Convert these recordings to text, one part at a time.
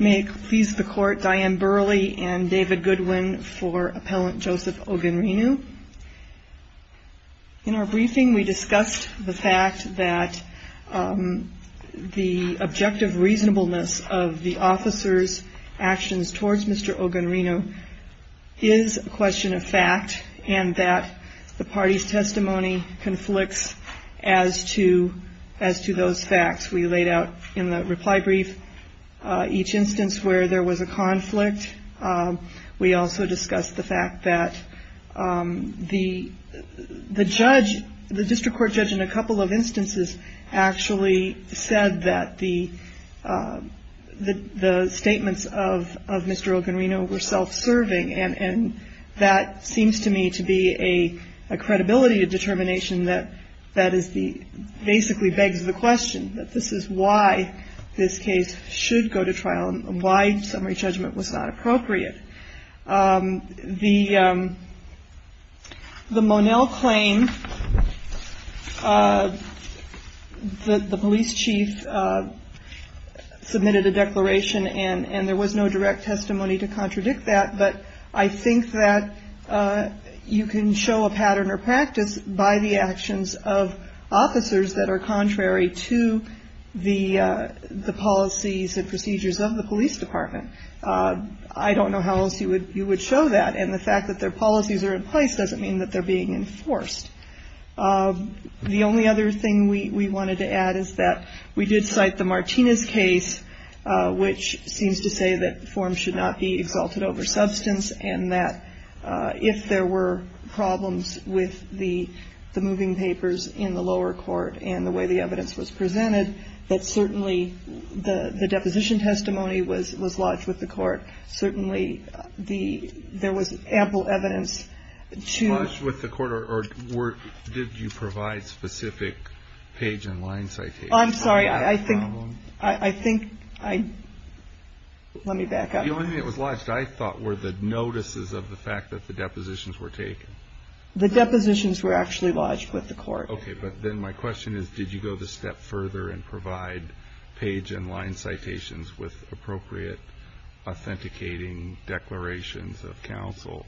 May it please the Court, Diane Burley and David Goodwin for Appellant Joseph Ogunrinu. In our briefing, we discussed the fact that the objective reasonableness of the officer's actions towards Mr. Ogunrinu is a question of fact and that the party's testimony conflicts as to those facts. We laid out in the reply brief each instance where there was a conflict. We also discussed the fact that the judge, the district court judge in a couple of instances actually said that the statements of Mr. Ogunrinu were self-serving and that seems to me to be a credibility determination that basically begs the question that this is why this case should go to trial and why summary judgment was not appropriate. The Monell claim, the police chief submitted a declaration and there was no direct testimony to contradict that but I think that you can show a pattern or practice by the actions of officers that are contrary to the policies and procedures of the police department. I don't know how else you would show that and the fact that their policies are in place doesn't mean that they're being enforced. The only other thing we wanted to add is that we did cite the Martinez case which seems to say that forms should not be exalted over substance and that if there were problems with the moving papers in the lower court and the way the evidence was presented that certainly the deposition testimony was lodged with the court. Certainly there was ample evidence to Lodge with the court or did you provide specific page and line citations? I'm sorry, I think, let me back up. The only thing that was lodged I thought were the notices of the fact that the depositions were taken. The depositions were actually lodged with the court. Okay, but then my question is did you go the step further and provide page and line citations with appropriate authenticating declarations of counsel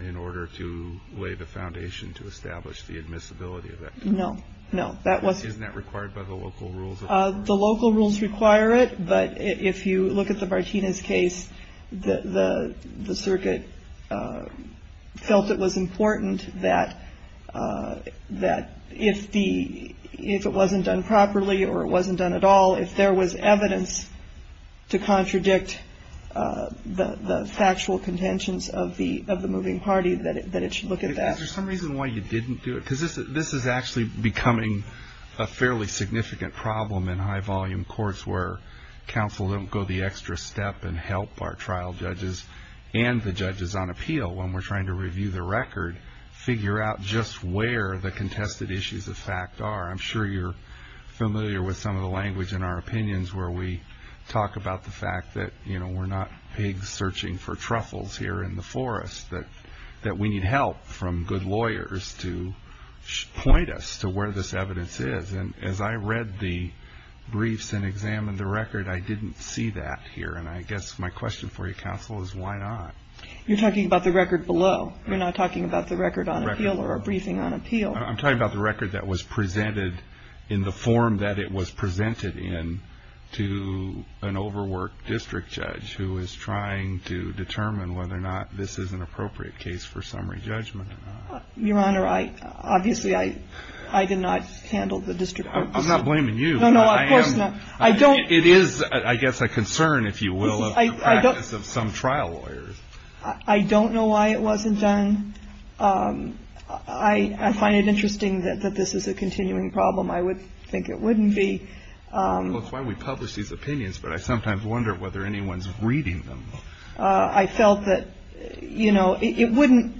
in order to lay the foundation to establish the admissibility of that case? No, no. Isn't that required by the local rules? The local rules require it, but if you look at the Martinez case, the circuit felt it was important that if it wasn't done properly or it wasn't done at all, if there was evidence to contradict the factual contentions of the moving party, that it should look at that. Is there some reason why you didn't do it? Because this is actually becoming a fairly significant problem in high volume courts where counsel don't go the extra step and help our trial judges and the judges on appeal when we're trying to review the record, figure out just where the contested issues of fact are. I'm sure you're familiar with some of the language in our opinions where we talk about the fact that, you know, we're not pigs searching for truffles here in the forest, that we need help from good lawyers to point us to where this evidence is. And as I read the briefs and examined the record, I didn't see that here. And I guess my question for you, counsel, is why not? You're talking about the record below. You're not talking about the record on appeal or a briefing on appeal. I'm talking about the record that was presented in the form that it was presented in to an overworked district judge who is trying to determine whether or not this is an appropriate case for summary judgment. Your Honor, obviously, I did not handle the district court. I'm not blaming you. No, no, of course not. It is, I guess, a concern, if you will, of the practice of some trial lawyers. I don't know why it wasn't done. I find it interesting that this is a continuing problem. I would think it wouldn't be. I don't know why we publish these opinions, but I sometimes wonder whether anyone's reading them. I felt that, you know, it wouldn't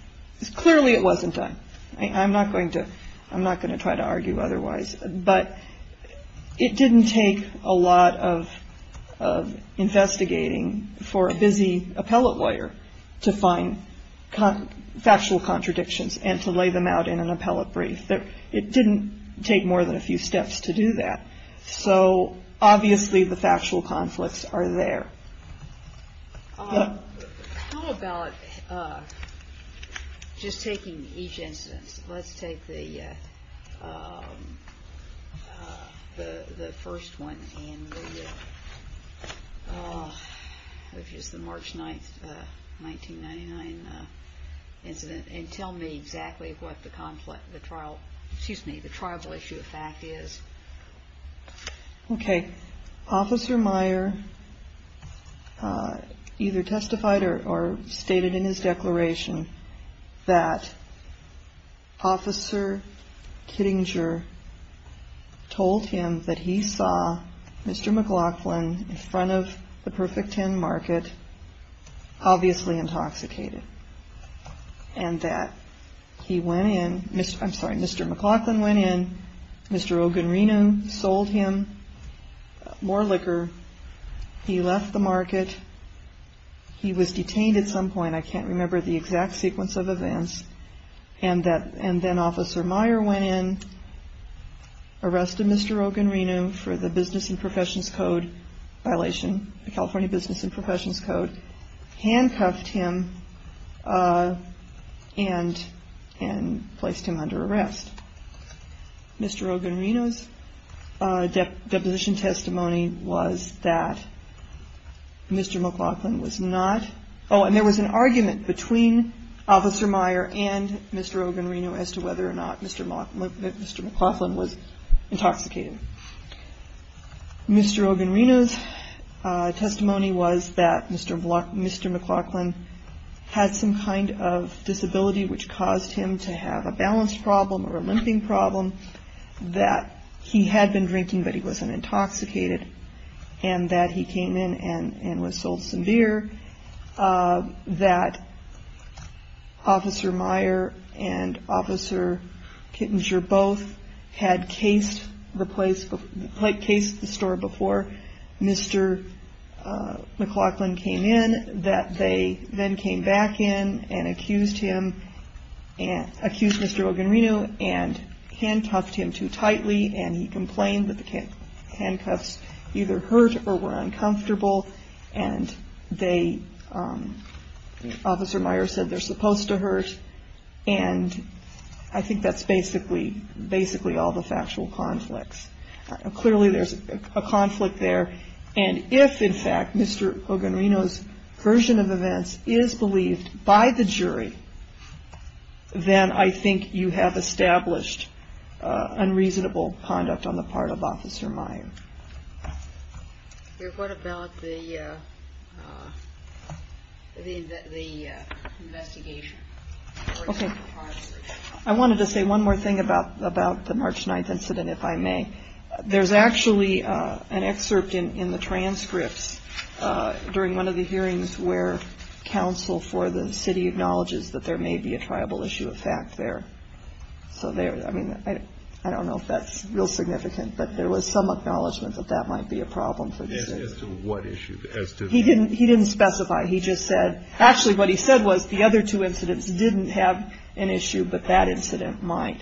– clearly it wasn't done. I'm not going to try to argue otherwise. But it didn't take a lot of investigating for a busy appellate lawyer to find factual contradictions and to lay them out in an appellate brief. It didn't take more than a few steps to do that. So, obviously, the factual conflicts are there. How about just taking each instance? Let's take the first one, which is the March 9, 1999 incident, and tell me exactly what the trial issue of fact is. Okay. Officer Meyer either testified or stated in his declaration that Officer Kittinger told him that he saw Mr. McLaughlin in front of the Perfect Ten market, obviously intoxicated, and that he went in – I'm sorry, Mr. McLaughlin went in, Mr. Ogunrenu sold him more liquor. He left the market. He was detained at some point. I can't remember the exact sequence of events. And then Officer Meyer went in, arrested Mr. Ogunrenu for the Business and Professions Code violation, the California Business and Professions Code, handcuffed him and placed him under arrest. Mr. Ogunrenu's deposition testimony was that Mr. McLaughlin was not – oh, and there was an argument between Officer Meyer and Mr. Ogunrenu as to whether or not Mr. McLaughlin was intoxicated. Mr. Ogunrenu's testimony was that Mr. McLaughlin had some kind of disability which caused him to have a balance problem or a limping problem, that he had been drinking but he wasn't intoxicated, and that he came in and was sold some beer, that Officer Meyer and Officer Kittinger both had cased the store before Mr. McLaughlin came in, that they then came back in and accused Mr. Ogunrenu and handcuffed him too tightly, and he complained that the handcuffs either hurt or were uncomfortable, and they – Officer Meyer said they're supposed to hurt, and I think that's basically all the factual conflicts. Clearly there's a conflict there, and if, in fact, Mr. Ogunrenu's version of events is believed by the jury, then I think you have established unreasonable conduct on the part of Officer Meyer. What about the investigation? I wanted to say one more thing about the March 9th incident, if I may. There's actually an excerpt in the transcripts during one of the hearings where counsel for the city acknowledges that there may be a tribal issue of fact there. So there – I mean, I don't know if that's real significant, but there was some acknowledgement that that might be a problem for the city. As to what issue? He didn't specify. He just said – actually, what he said was the other two incidents didn't have an issue, but that incident might.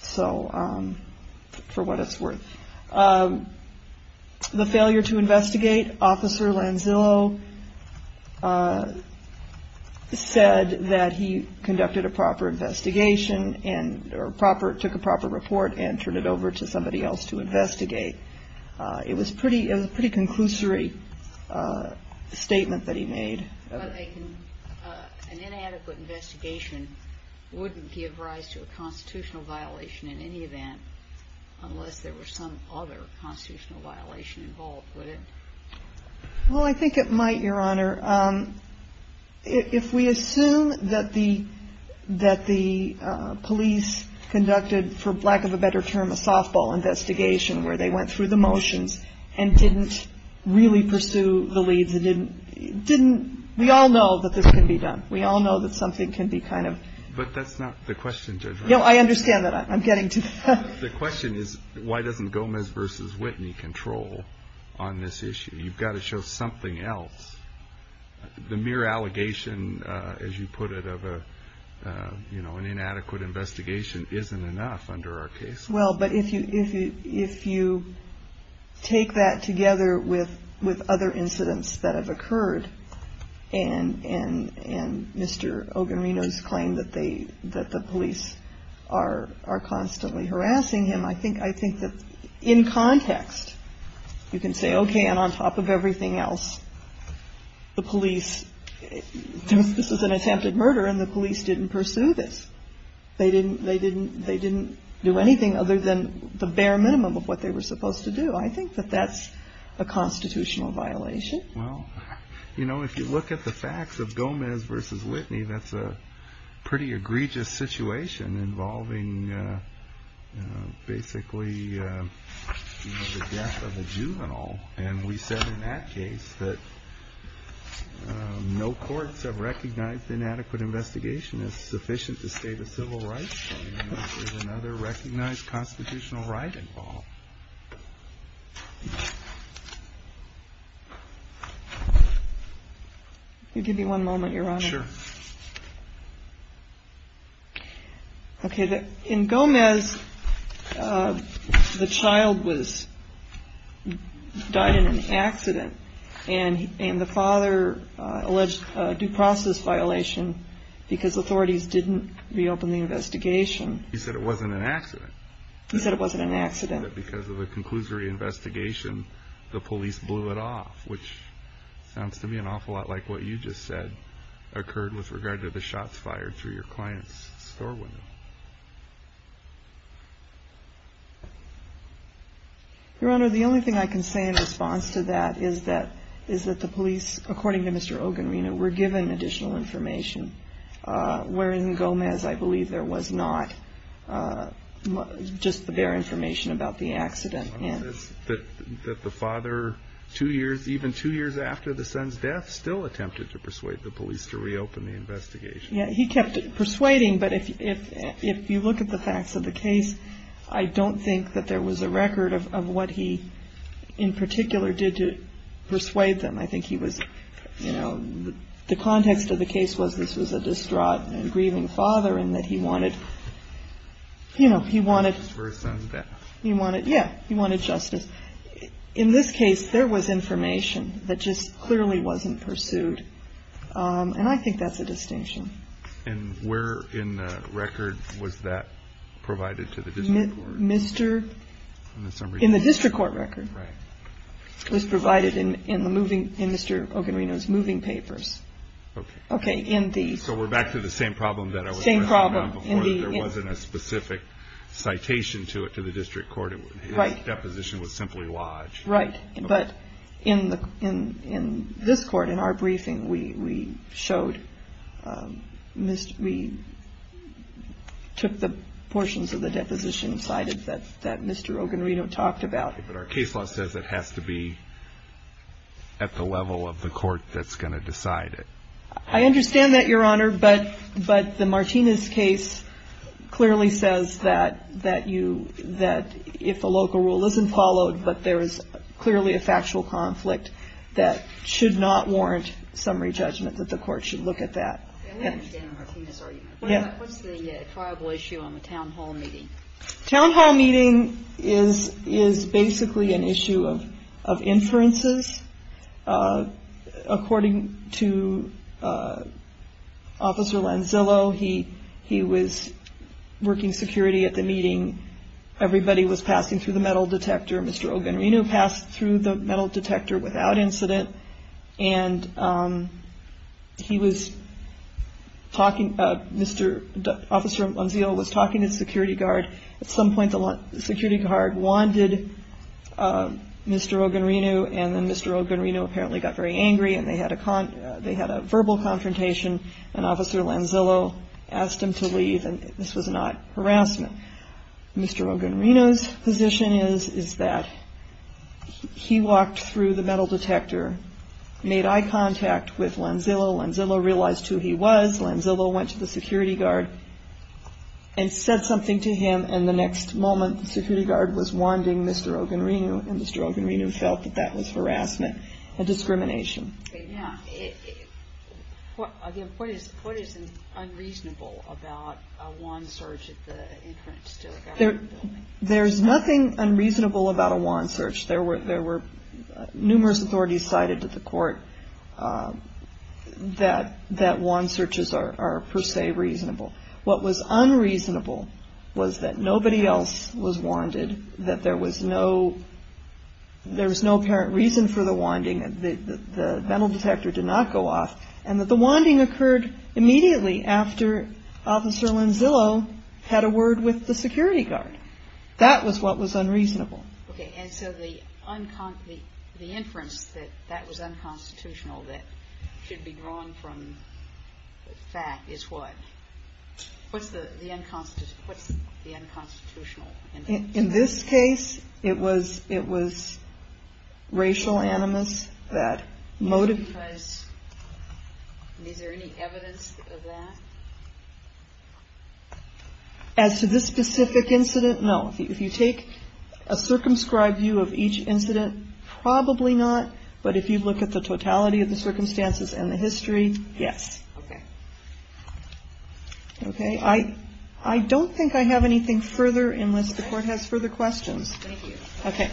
So, for what it's worth. The failure to investigate, Officer Lanzillo said that he conducted a proper investigation and took a proper report and turned it over to somebody else to investigate. It was a pretty conclusory statement that he made. An inadequate investigation wouldn't give rise to a constitutional violation in any event, unless there was some other constitutional violation involved, would it? Well, I think it might, Your Honor. If we assume that the police conducted, for lack of a better term, a softball investigation where they went through the motions and didn't really pursue the leads, it didn't – we all know that this can be done. We all know that something can be kind of – But that's not the question, Judge Wright. No, I understand that. I'm getting to that. The question is, why doesn't Gomez v. Whitney control on this issue? You've got to show something else. The mere allegation, as you put it, of an inadequate investigation isn't enough under our case. Well, but if you take that together with other incidents that have occurred and Mr. Ogarino's claim that the police are constantly harassing him, I think that in context, you can say, okay, and on top of everything else, the police – this is an attempted murder and the police didn't pursue this. They didn't do anything other than the bare minimum of what they were supposed to do. I think that that's a constitutional violation. Well, you know, if you look at the facts of Gomez v. Whitney, that's a pretty egregious situation involving basically the death of a juvenile. And we said in that case that no courts have recognized inadequate investigation as sufficient to state a civil right, and there's another recognized constitutional right involved. Can you give me one moment, Your Honor? Sure. Okay. In Gomez, the child died in an accident, and the father alleged due process violation because authorities didn't reopen the investigation. He said it wasn't an accident. He said it wasn't an accident. Because of a conclusory investigation, the police blew it off, which sounds to me an awful lot like what you just said occurred with regard to the shots fired through your client's store window. Your Honor, the only thing I can say in response to that is that the police, according to Mr. Ogarino, were given additional information, wherein Gomez I believe there was not just the bare information about the accident. Your Honor, that the father, two years, even two years after the son's death, still attempted to persuade the police to reopen the investigation. Yeah, he kept persuading, but if you look at the facts of the case, I don't think that there was a record of what he in particular did to persuade them. I think he was, you know, the context of the case was this was a distraught and grieving father and that he wanted, you know, he wanted. For his son's death. Yeah, he wanted justice. In this case, there was information that just clearly wasn't pursued, and I think that's a distinction. And where in the record was that provided to the district court? In the district court record. Right. It was provided in the moving, in Mr. Ogarino's moving papers. Okay. Okay, in the. So we're back to the same problem. Same problem. There wasn't a specific citation to it to the district court. Right. Deposition was simply lodged. Right. But in this court, in our briefing, we showed, we took the portions of the deposition cited that Mr. Ogarino talked about. But our case law says it has to be at the level of the court that's going to decide it. I understand that, Your Honor, but the Martinez case clearly says that you, that if a local rule isn't followed, but there is clearly a factual conflict that should not warrant summary judgment, that the court should look at that. Yeah, we understand the Martinez argument. Yeah. What's the tribal issue on the town hall meeting? Town hall meeting is basically an issue of inferences. According to Officer Lanzillo, he was working security at the meeting. Everybody was passing through the metal detector. Mr. Ogarino passed through the metal detector without incident. And he was talking, Officer Lanzillo was talking to the security guard. At some point, the security guard wanted Mr. Ogarino, and then Mr. Ogarino apparently got very angry, and they had a verbal confrontation, and Officer Lanzillo asked him to leave, and this was not harassment. Mr. Ogarino's position is that he walked through the metal detector, made eye contact with Lanzillo. Lanzillo realized who he was. Lanzillo went to the security guard and said something to him, and the next moment the security guard was wanding Mr. Ogarino, and Mr. Ogarino felt that that was harassment and discrimination. What is unreasonable about a wand search at the entrance to a government building? There's nothing unreasonable about a wand search. There were numerous authorities cited to the court that wand searches are per se reasonable. What was unreasonable was that nobody else was wanded, that there was no apparent reason for the wanding, that the metal detector did not go off, and that the wanding occurred immediately after Officer Lanzillo had a word with the security guard. That was what was unreasonable. Okay, and so the inference that that was unconstitutional that should be drawn from fact is what? What's the unconstitutional inference? In this case, it was racial animus that motivates. Is there any evidence of that? As to this specific incident, no. If you take a circumscribed view of each incident, probably not, but if you look at the totality of the circumstances and the history, yes. Okay. Okay. I don't think I have anything further unless the Court has further questions. Thank you. Okay.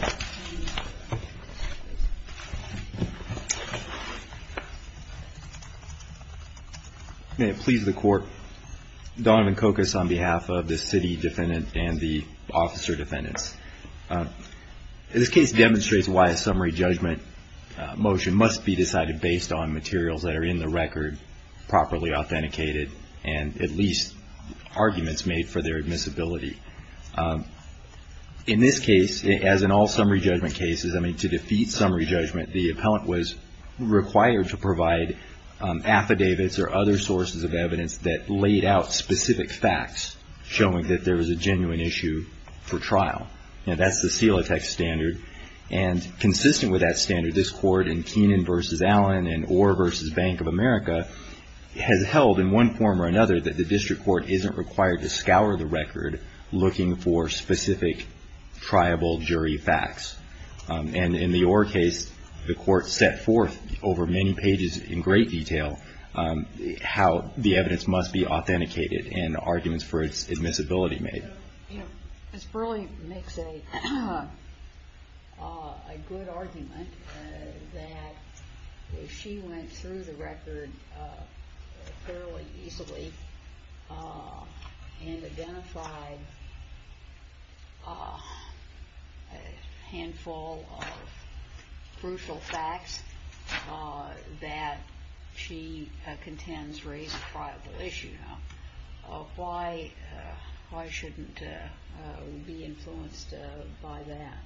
May it please the Court. Donovan Kokos on behalf of the city defendant and the officer defendants. This case demonstrates why a summary judgment motion must be decided based on materials that are in the record properly authenticated and at least arguments made for their admissibility. In this case, as in all summary judgment cases, I mean, to defeat summary judgment, the appellant was required to provide affidavits or other sources of evidence that laid out specific facts showing that there was a genuine issue for trial. That's the Celotex standard, and consistent with that standard, this Court in Keenan v. Allen and Orr v. Bank of America has held in one form or another that the district court isn't required to scour the record looking for specific triable jury facts. And in the Orr case, the Court set forth over many pages in great detail how the evidence must be authenticated and arguments for its admissibility made. Ms. Burleigh makes a good argument that she went through the record fairly easily and identified a handful of crucial facts that she contends raise a triable issue. Why shouldn't we be influenced by that?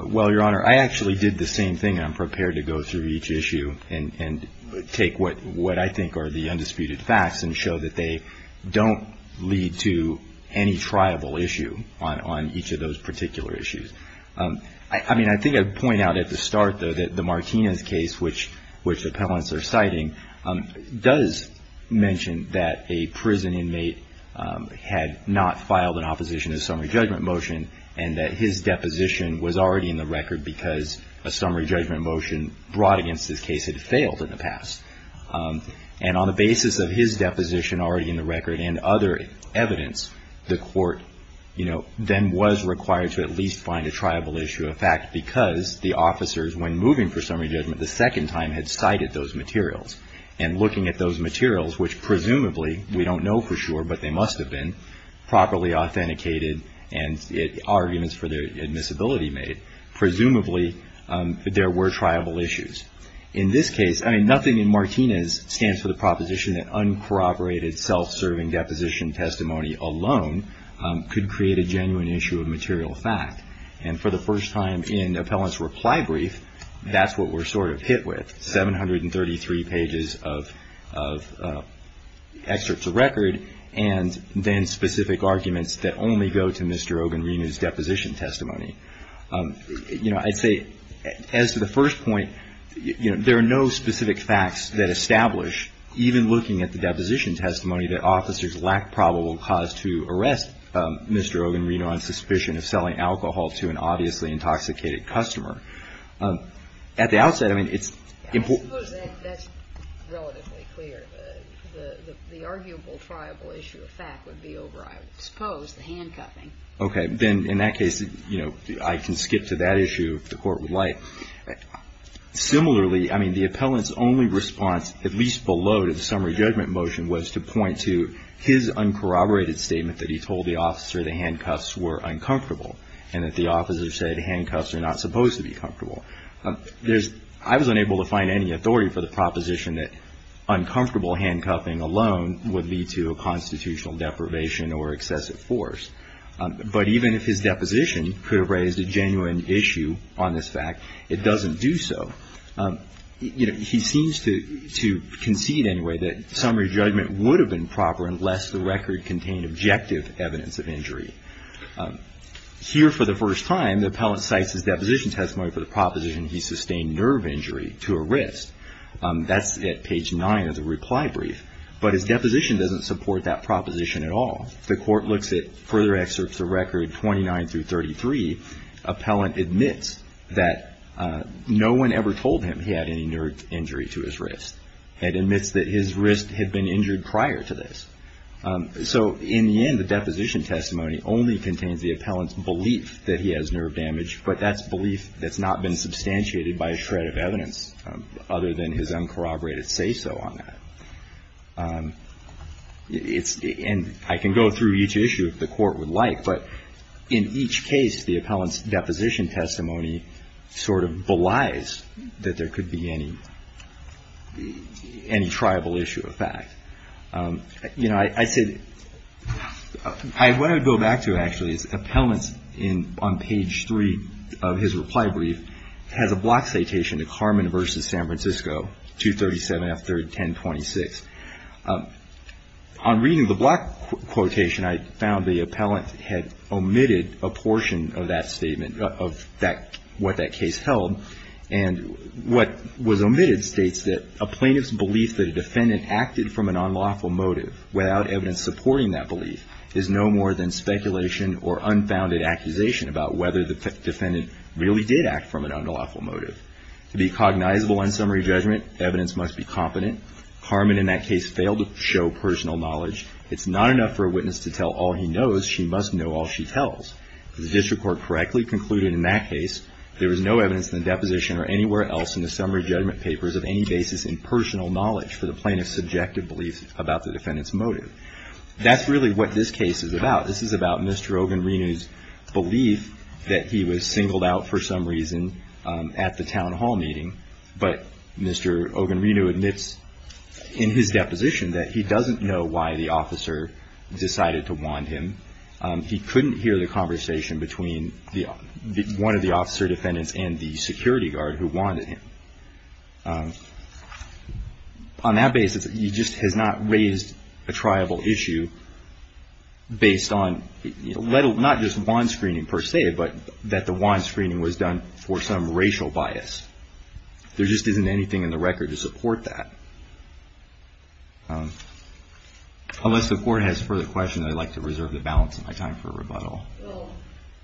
Well, Your Honor, I actually did the same thing. I'm prepared to go through each issue and take what I think are the undisputed facts and show that they don't lead to any triable issue on each of those particular issues. I mean, I think I'd point out at the start, though, that the Martinez case, which appellants are citing, does mention that a prison inmate had not filed an opposition to a summary judgment motion and that his deposition was already in the record because a summary judgment motion brought against his case had failed in the past. And on the basis of his deposition already in the record and other evidence, the Court then was required to at least find a triable issue. the officers, when moving for summary judgment, the second time had cited those materials. And looking at those materials, which presumably, we don't know for sure, but they must have been properly authenticated and arguments for their admissibility made, presumably there were triable issues. In this case, I mean, nothing in Martinez stands for the proposition that uncorroborated, self-serving deposition testimony alone could create a genuine issue of material fact. And for the first time in appellant's reply brief, that's what we're sort of hit with, 733 pages of excerpts of record and then specific arguments that only go to Mr. Ogunrino's deposition testimony. You know, I'd say, as to the first point, you know, there are no specific facts that establish, even looking at the deposition testimony, that officers lack probable cause to arrest Mr. Ogunrino on suspicion of selling alcohol to an obviously intoxicated customer. At the outset, I mean, it's important. I suppose that's relatively clear. The arguable, triable issue of fact would be over, I suppose, the handcuffing. Okay. Then in that case, you know, I can skip to that issue if the Court would like. Similarly, I mean, the appellant's only response, at least below to the summary judgment motion, was to point to his uncorroborated statement that he told the officer the handcuffs were uncomfortable and that the officer said handcuffs are not supposed to be comfortable. I was unable to find any authority for the proposition that uncomfortable handcuffing alone would lead to a constitutional deprivation or excessive force. But even if his deposition could have raised a genuine issue on this fact, it doesn't do so. You know, he seems to concede anyway that summary judgment would have been proper unless the record contained objective evidence of injury. Here, for the first time, the appellant cites his deposition testimony for the proposition he sustained nerve injury to arrest. That's at page 9 of the reply brief. But his deposition doesn't support that proposition at all. The Court looks at further excerpts of record 29 through 33. Appellant admits that no one ever told him he had any nerve injury to his wrist and admits that his wrist had been injured prior to this. So in the end, the deposition testimony only contains the appellant's belief that he has nerve damage, but that's belief that's not been substantiated by a shred of evidence other than his uncorroborated say-so on that. And I can go through each issue if the Court would like, but in each case the appellant's deposition testimony sort of belies that there could be any tribal issue of fact. You know, I said, what I would go back to actually is appellants on page 3 of his reply brief has a block citation to Carmen v. San Francisco, 237 F. 1026. On reading the block quotation, I found the appellant had omitted a portion of that statement of what that case held. And what was omitted states that a plaintiff's belief that a defendant acted from an unlawful motive without evidence supporting that belief is no more than speculation or unfounded accusation about whether the defendant really did act from an unlawful motive. To be cognizable on summary judgment, evidence must be competent. Carmen in that case failed to show personal knowledge. It's not enough for a witness to tell all he knows. She must know all she tells. If the district court correctly concluded in that case there was no evidence in the deposition or anywhere else in the summary judgment papers of any basis in personal knowledge for the plaintiff's subjective belief about the defendant's motive. That's really what this case is about. This is about Mr. Ogunrenu's belief that he was singled out for some reason at the town hall meeting. But Mr. Ogunrenu admits in his deposition that he doesn't know why the officer decided to want him. He couldn't hear the conversation between one of the officer defendants and the security guard who wanted him. On that basis, he just has not raised a triable issue based on not just want screening per se, but that the want screening was done for some racial bias. There just isn't anything in the record to support that. Unless the court has further questions, I'd like to reserve the balance of my time for rebuttal. Well,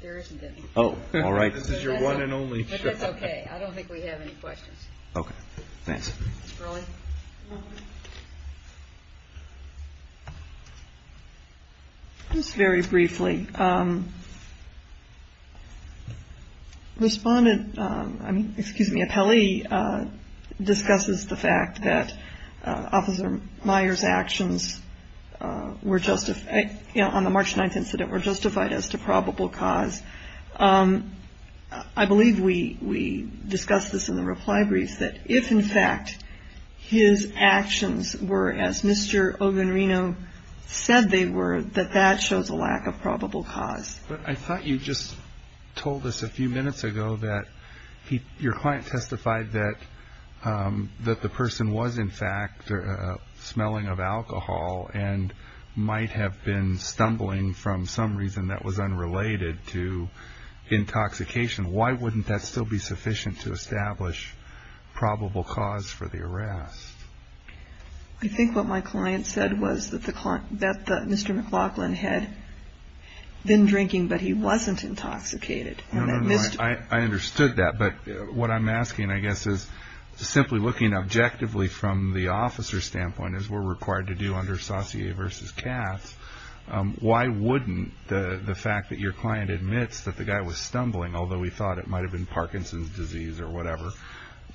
there isn't any. Oh, all right. This is your one and only. But that's okay. I don't think we have any questions. Okay. Thanks. Ms. Burleigh? Just very briefly, respondent, I mean, excuse me, appellee discusses the fact that Officer Meyer's actions were justified, on the March 9th incident were justified as to probable cause. I believe we discussed this in the reply brief that if, in fact, his actions were as Mr. Oganrino said they were, that that shows a lack of probable cause. But I thought you just told us a few minutes ago that your client testified that the person was, in fact, smelling of alcohol and might have been stumbling from some reason that was unrelated to intoxication. Why wouldn't that still be sufficient to establish probable cause for the arrest? I think what my client said was that Mr. McLaughlin had been drinking, but he wasn't intoxicated. I understood that. But what I'm asking, I guess, is simply looking objectively from the officer's standpoint, as we're required to do under saucier versus Katz, why wouldn't the fact that your client admits that the guy was stumbling, although he thought it might have been Parkinson's disease or whatever,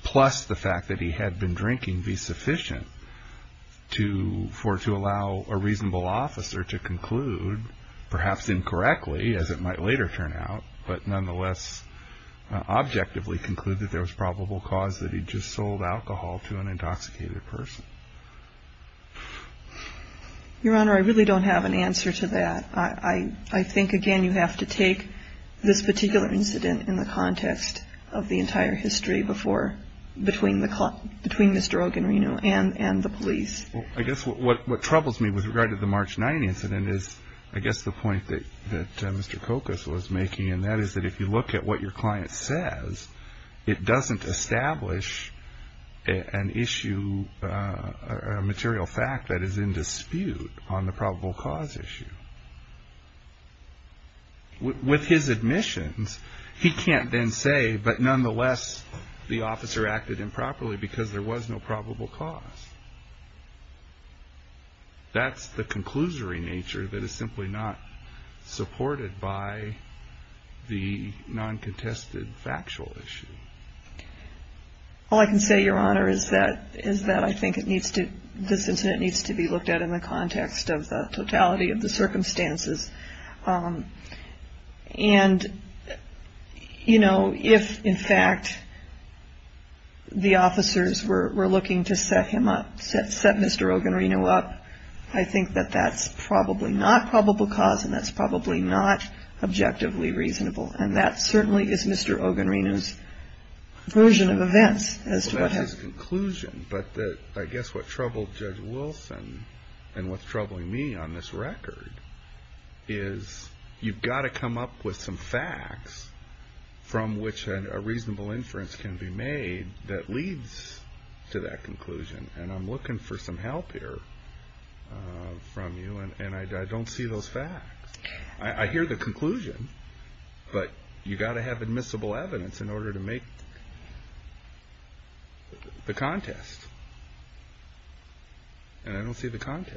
plus the fact that he had been drinking be sufficient to allow a reasonable officer to conclude, perhaps incorrectly, as it might later turn out, but nonetheless objectively conclude that there was probable cause that he'd just sold alcohol to an intoxicated person? Your Honor, I really don't have an answer to that. I think, again, you have to take this particular incident in the context of the entire history before, between Mr. Oganrino and the police. I guess what troubles me with regard to the March 9th incident is, I guess, the point that Mr. Kokos was making, and that is that if you look at what your client says, it doesn't establish an issue or a material fact that is in dispute on the probable cause issue. With his admissions, he can't then say, but nonetheless the officer acted improperly because there was no probable cause. That's the conclusory nature that is simply not supported by the non-contested factual issue. All I can say, Your Honor, is that I think this incident needs to be looked at in the context of the totality of the circumstances, and if, in fact, the officers were looking to set him up, set Mr. Oganrino up, I think that that's probably not probable cause and that's probably not objectively reasonable, and that certainly is Mr. Oganrino's version of events as to what happened. I hear the conclusion, but I guess what troubled Judge Wilson and what's troubling me on this record is you've got to come up with some facts from which a reasonable inference can be made that leads to that conclusion, and I'm looking for some help here from you, and I don't see those facts. I hear the conclusion, but you've got to have admissible evidence in order to make the contest, and I don't see the contest.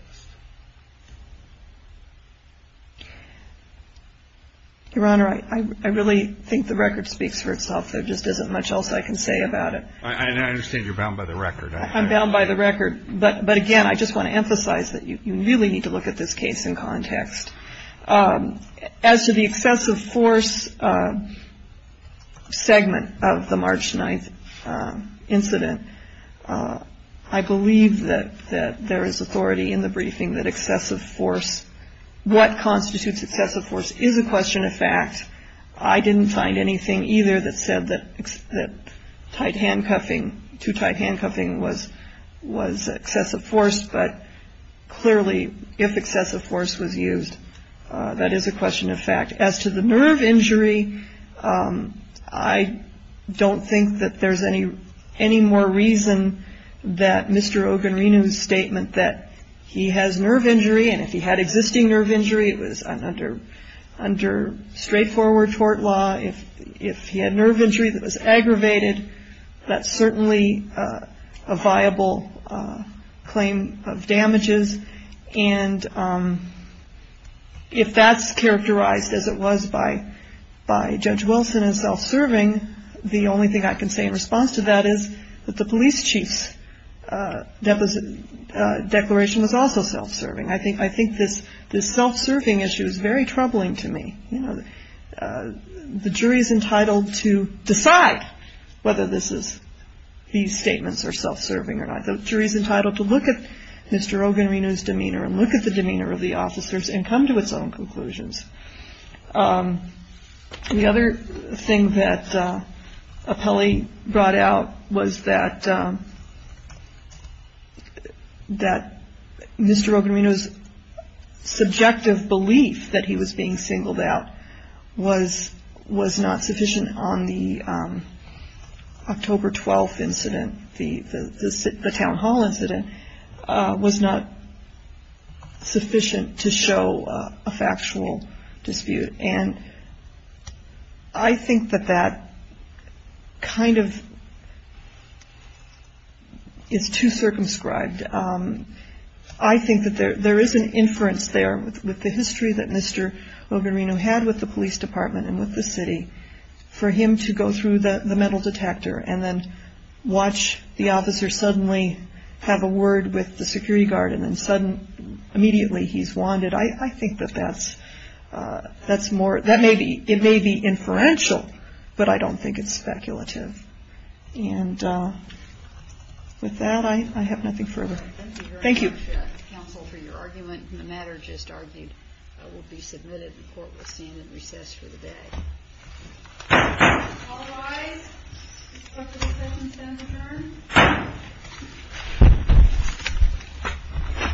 Your Honor, I really think the record speaks for itself. There just isn't much else I can say about it. I understand you're bound by the record. I'm bound by the record, but again, I just want to emphasize that you really need to look at this case in context. As to the excessive force segment of the March 9th incident, I believe that there is authority in the briefing that excessive force, what constitutes excessive force, is a question of fact. I didn't find anything either that said that tight handcuffing, too tight handcuffing was excessive force, but clearly if excessive force was used, that is a question of fact. As to the nerve injury, I don't think that there's any more reason that Mr. Ogunrinu's statement that he has nerve injury, and if he had existing nerve injury, it was under straightforward tort law. If he had nerve injury that was aggravated, that's certainly a viable claim of damages. And if that's characterized as it was by Judge Wilson as self-serving, the only thing I can say in response to that is that the police chief's declaration was also self-serving. I think this self-serving issue is very troubling to me. The jury is entitled to decide whether these statements are self-serving or not. The jury is entitled to look at Mr. Ogunrinu's demeanor and look at the demeanor of the officers and come to its own conclusions. The other thing that Appelli brought out was that Mr. Ogunrinu's subjective belief that he was being singled out was not sufficient on the October 12th incident, the town hall incident, was not sufficient to show a factual dispute. And I think that that kind of is too circumscribed. I think that there is an inference there with the history that Mr. Ogunrinu had with the police department and with the city for him to go through the metal detector and then watch the officer suddenly have a word with the security guard and then suddenly immediately he's wanted. I think that that's more – it may be inferential, but I don't think it's speculative. And with that, I have nothing further. Thank you. Thank you, Counsel, for your argument. The matter just argued will be submitted. The court will stand at recess for the day. All rise. The Court of Appeals has been adjourned.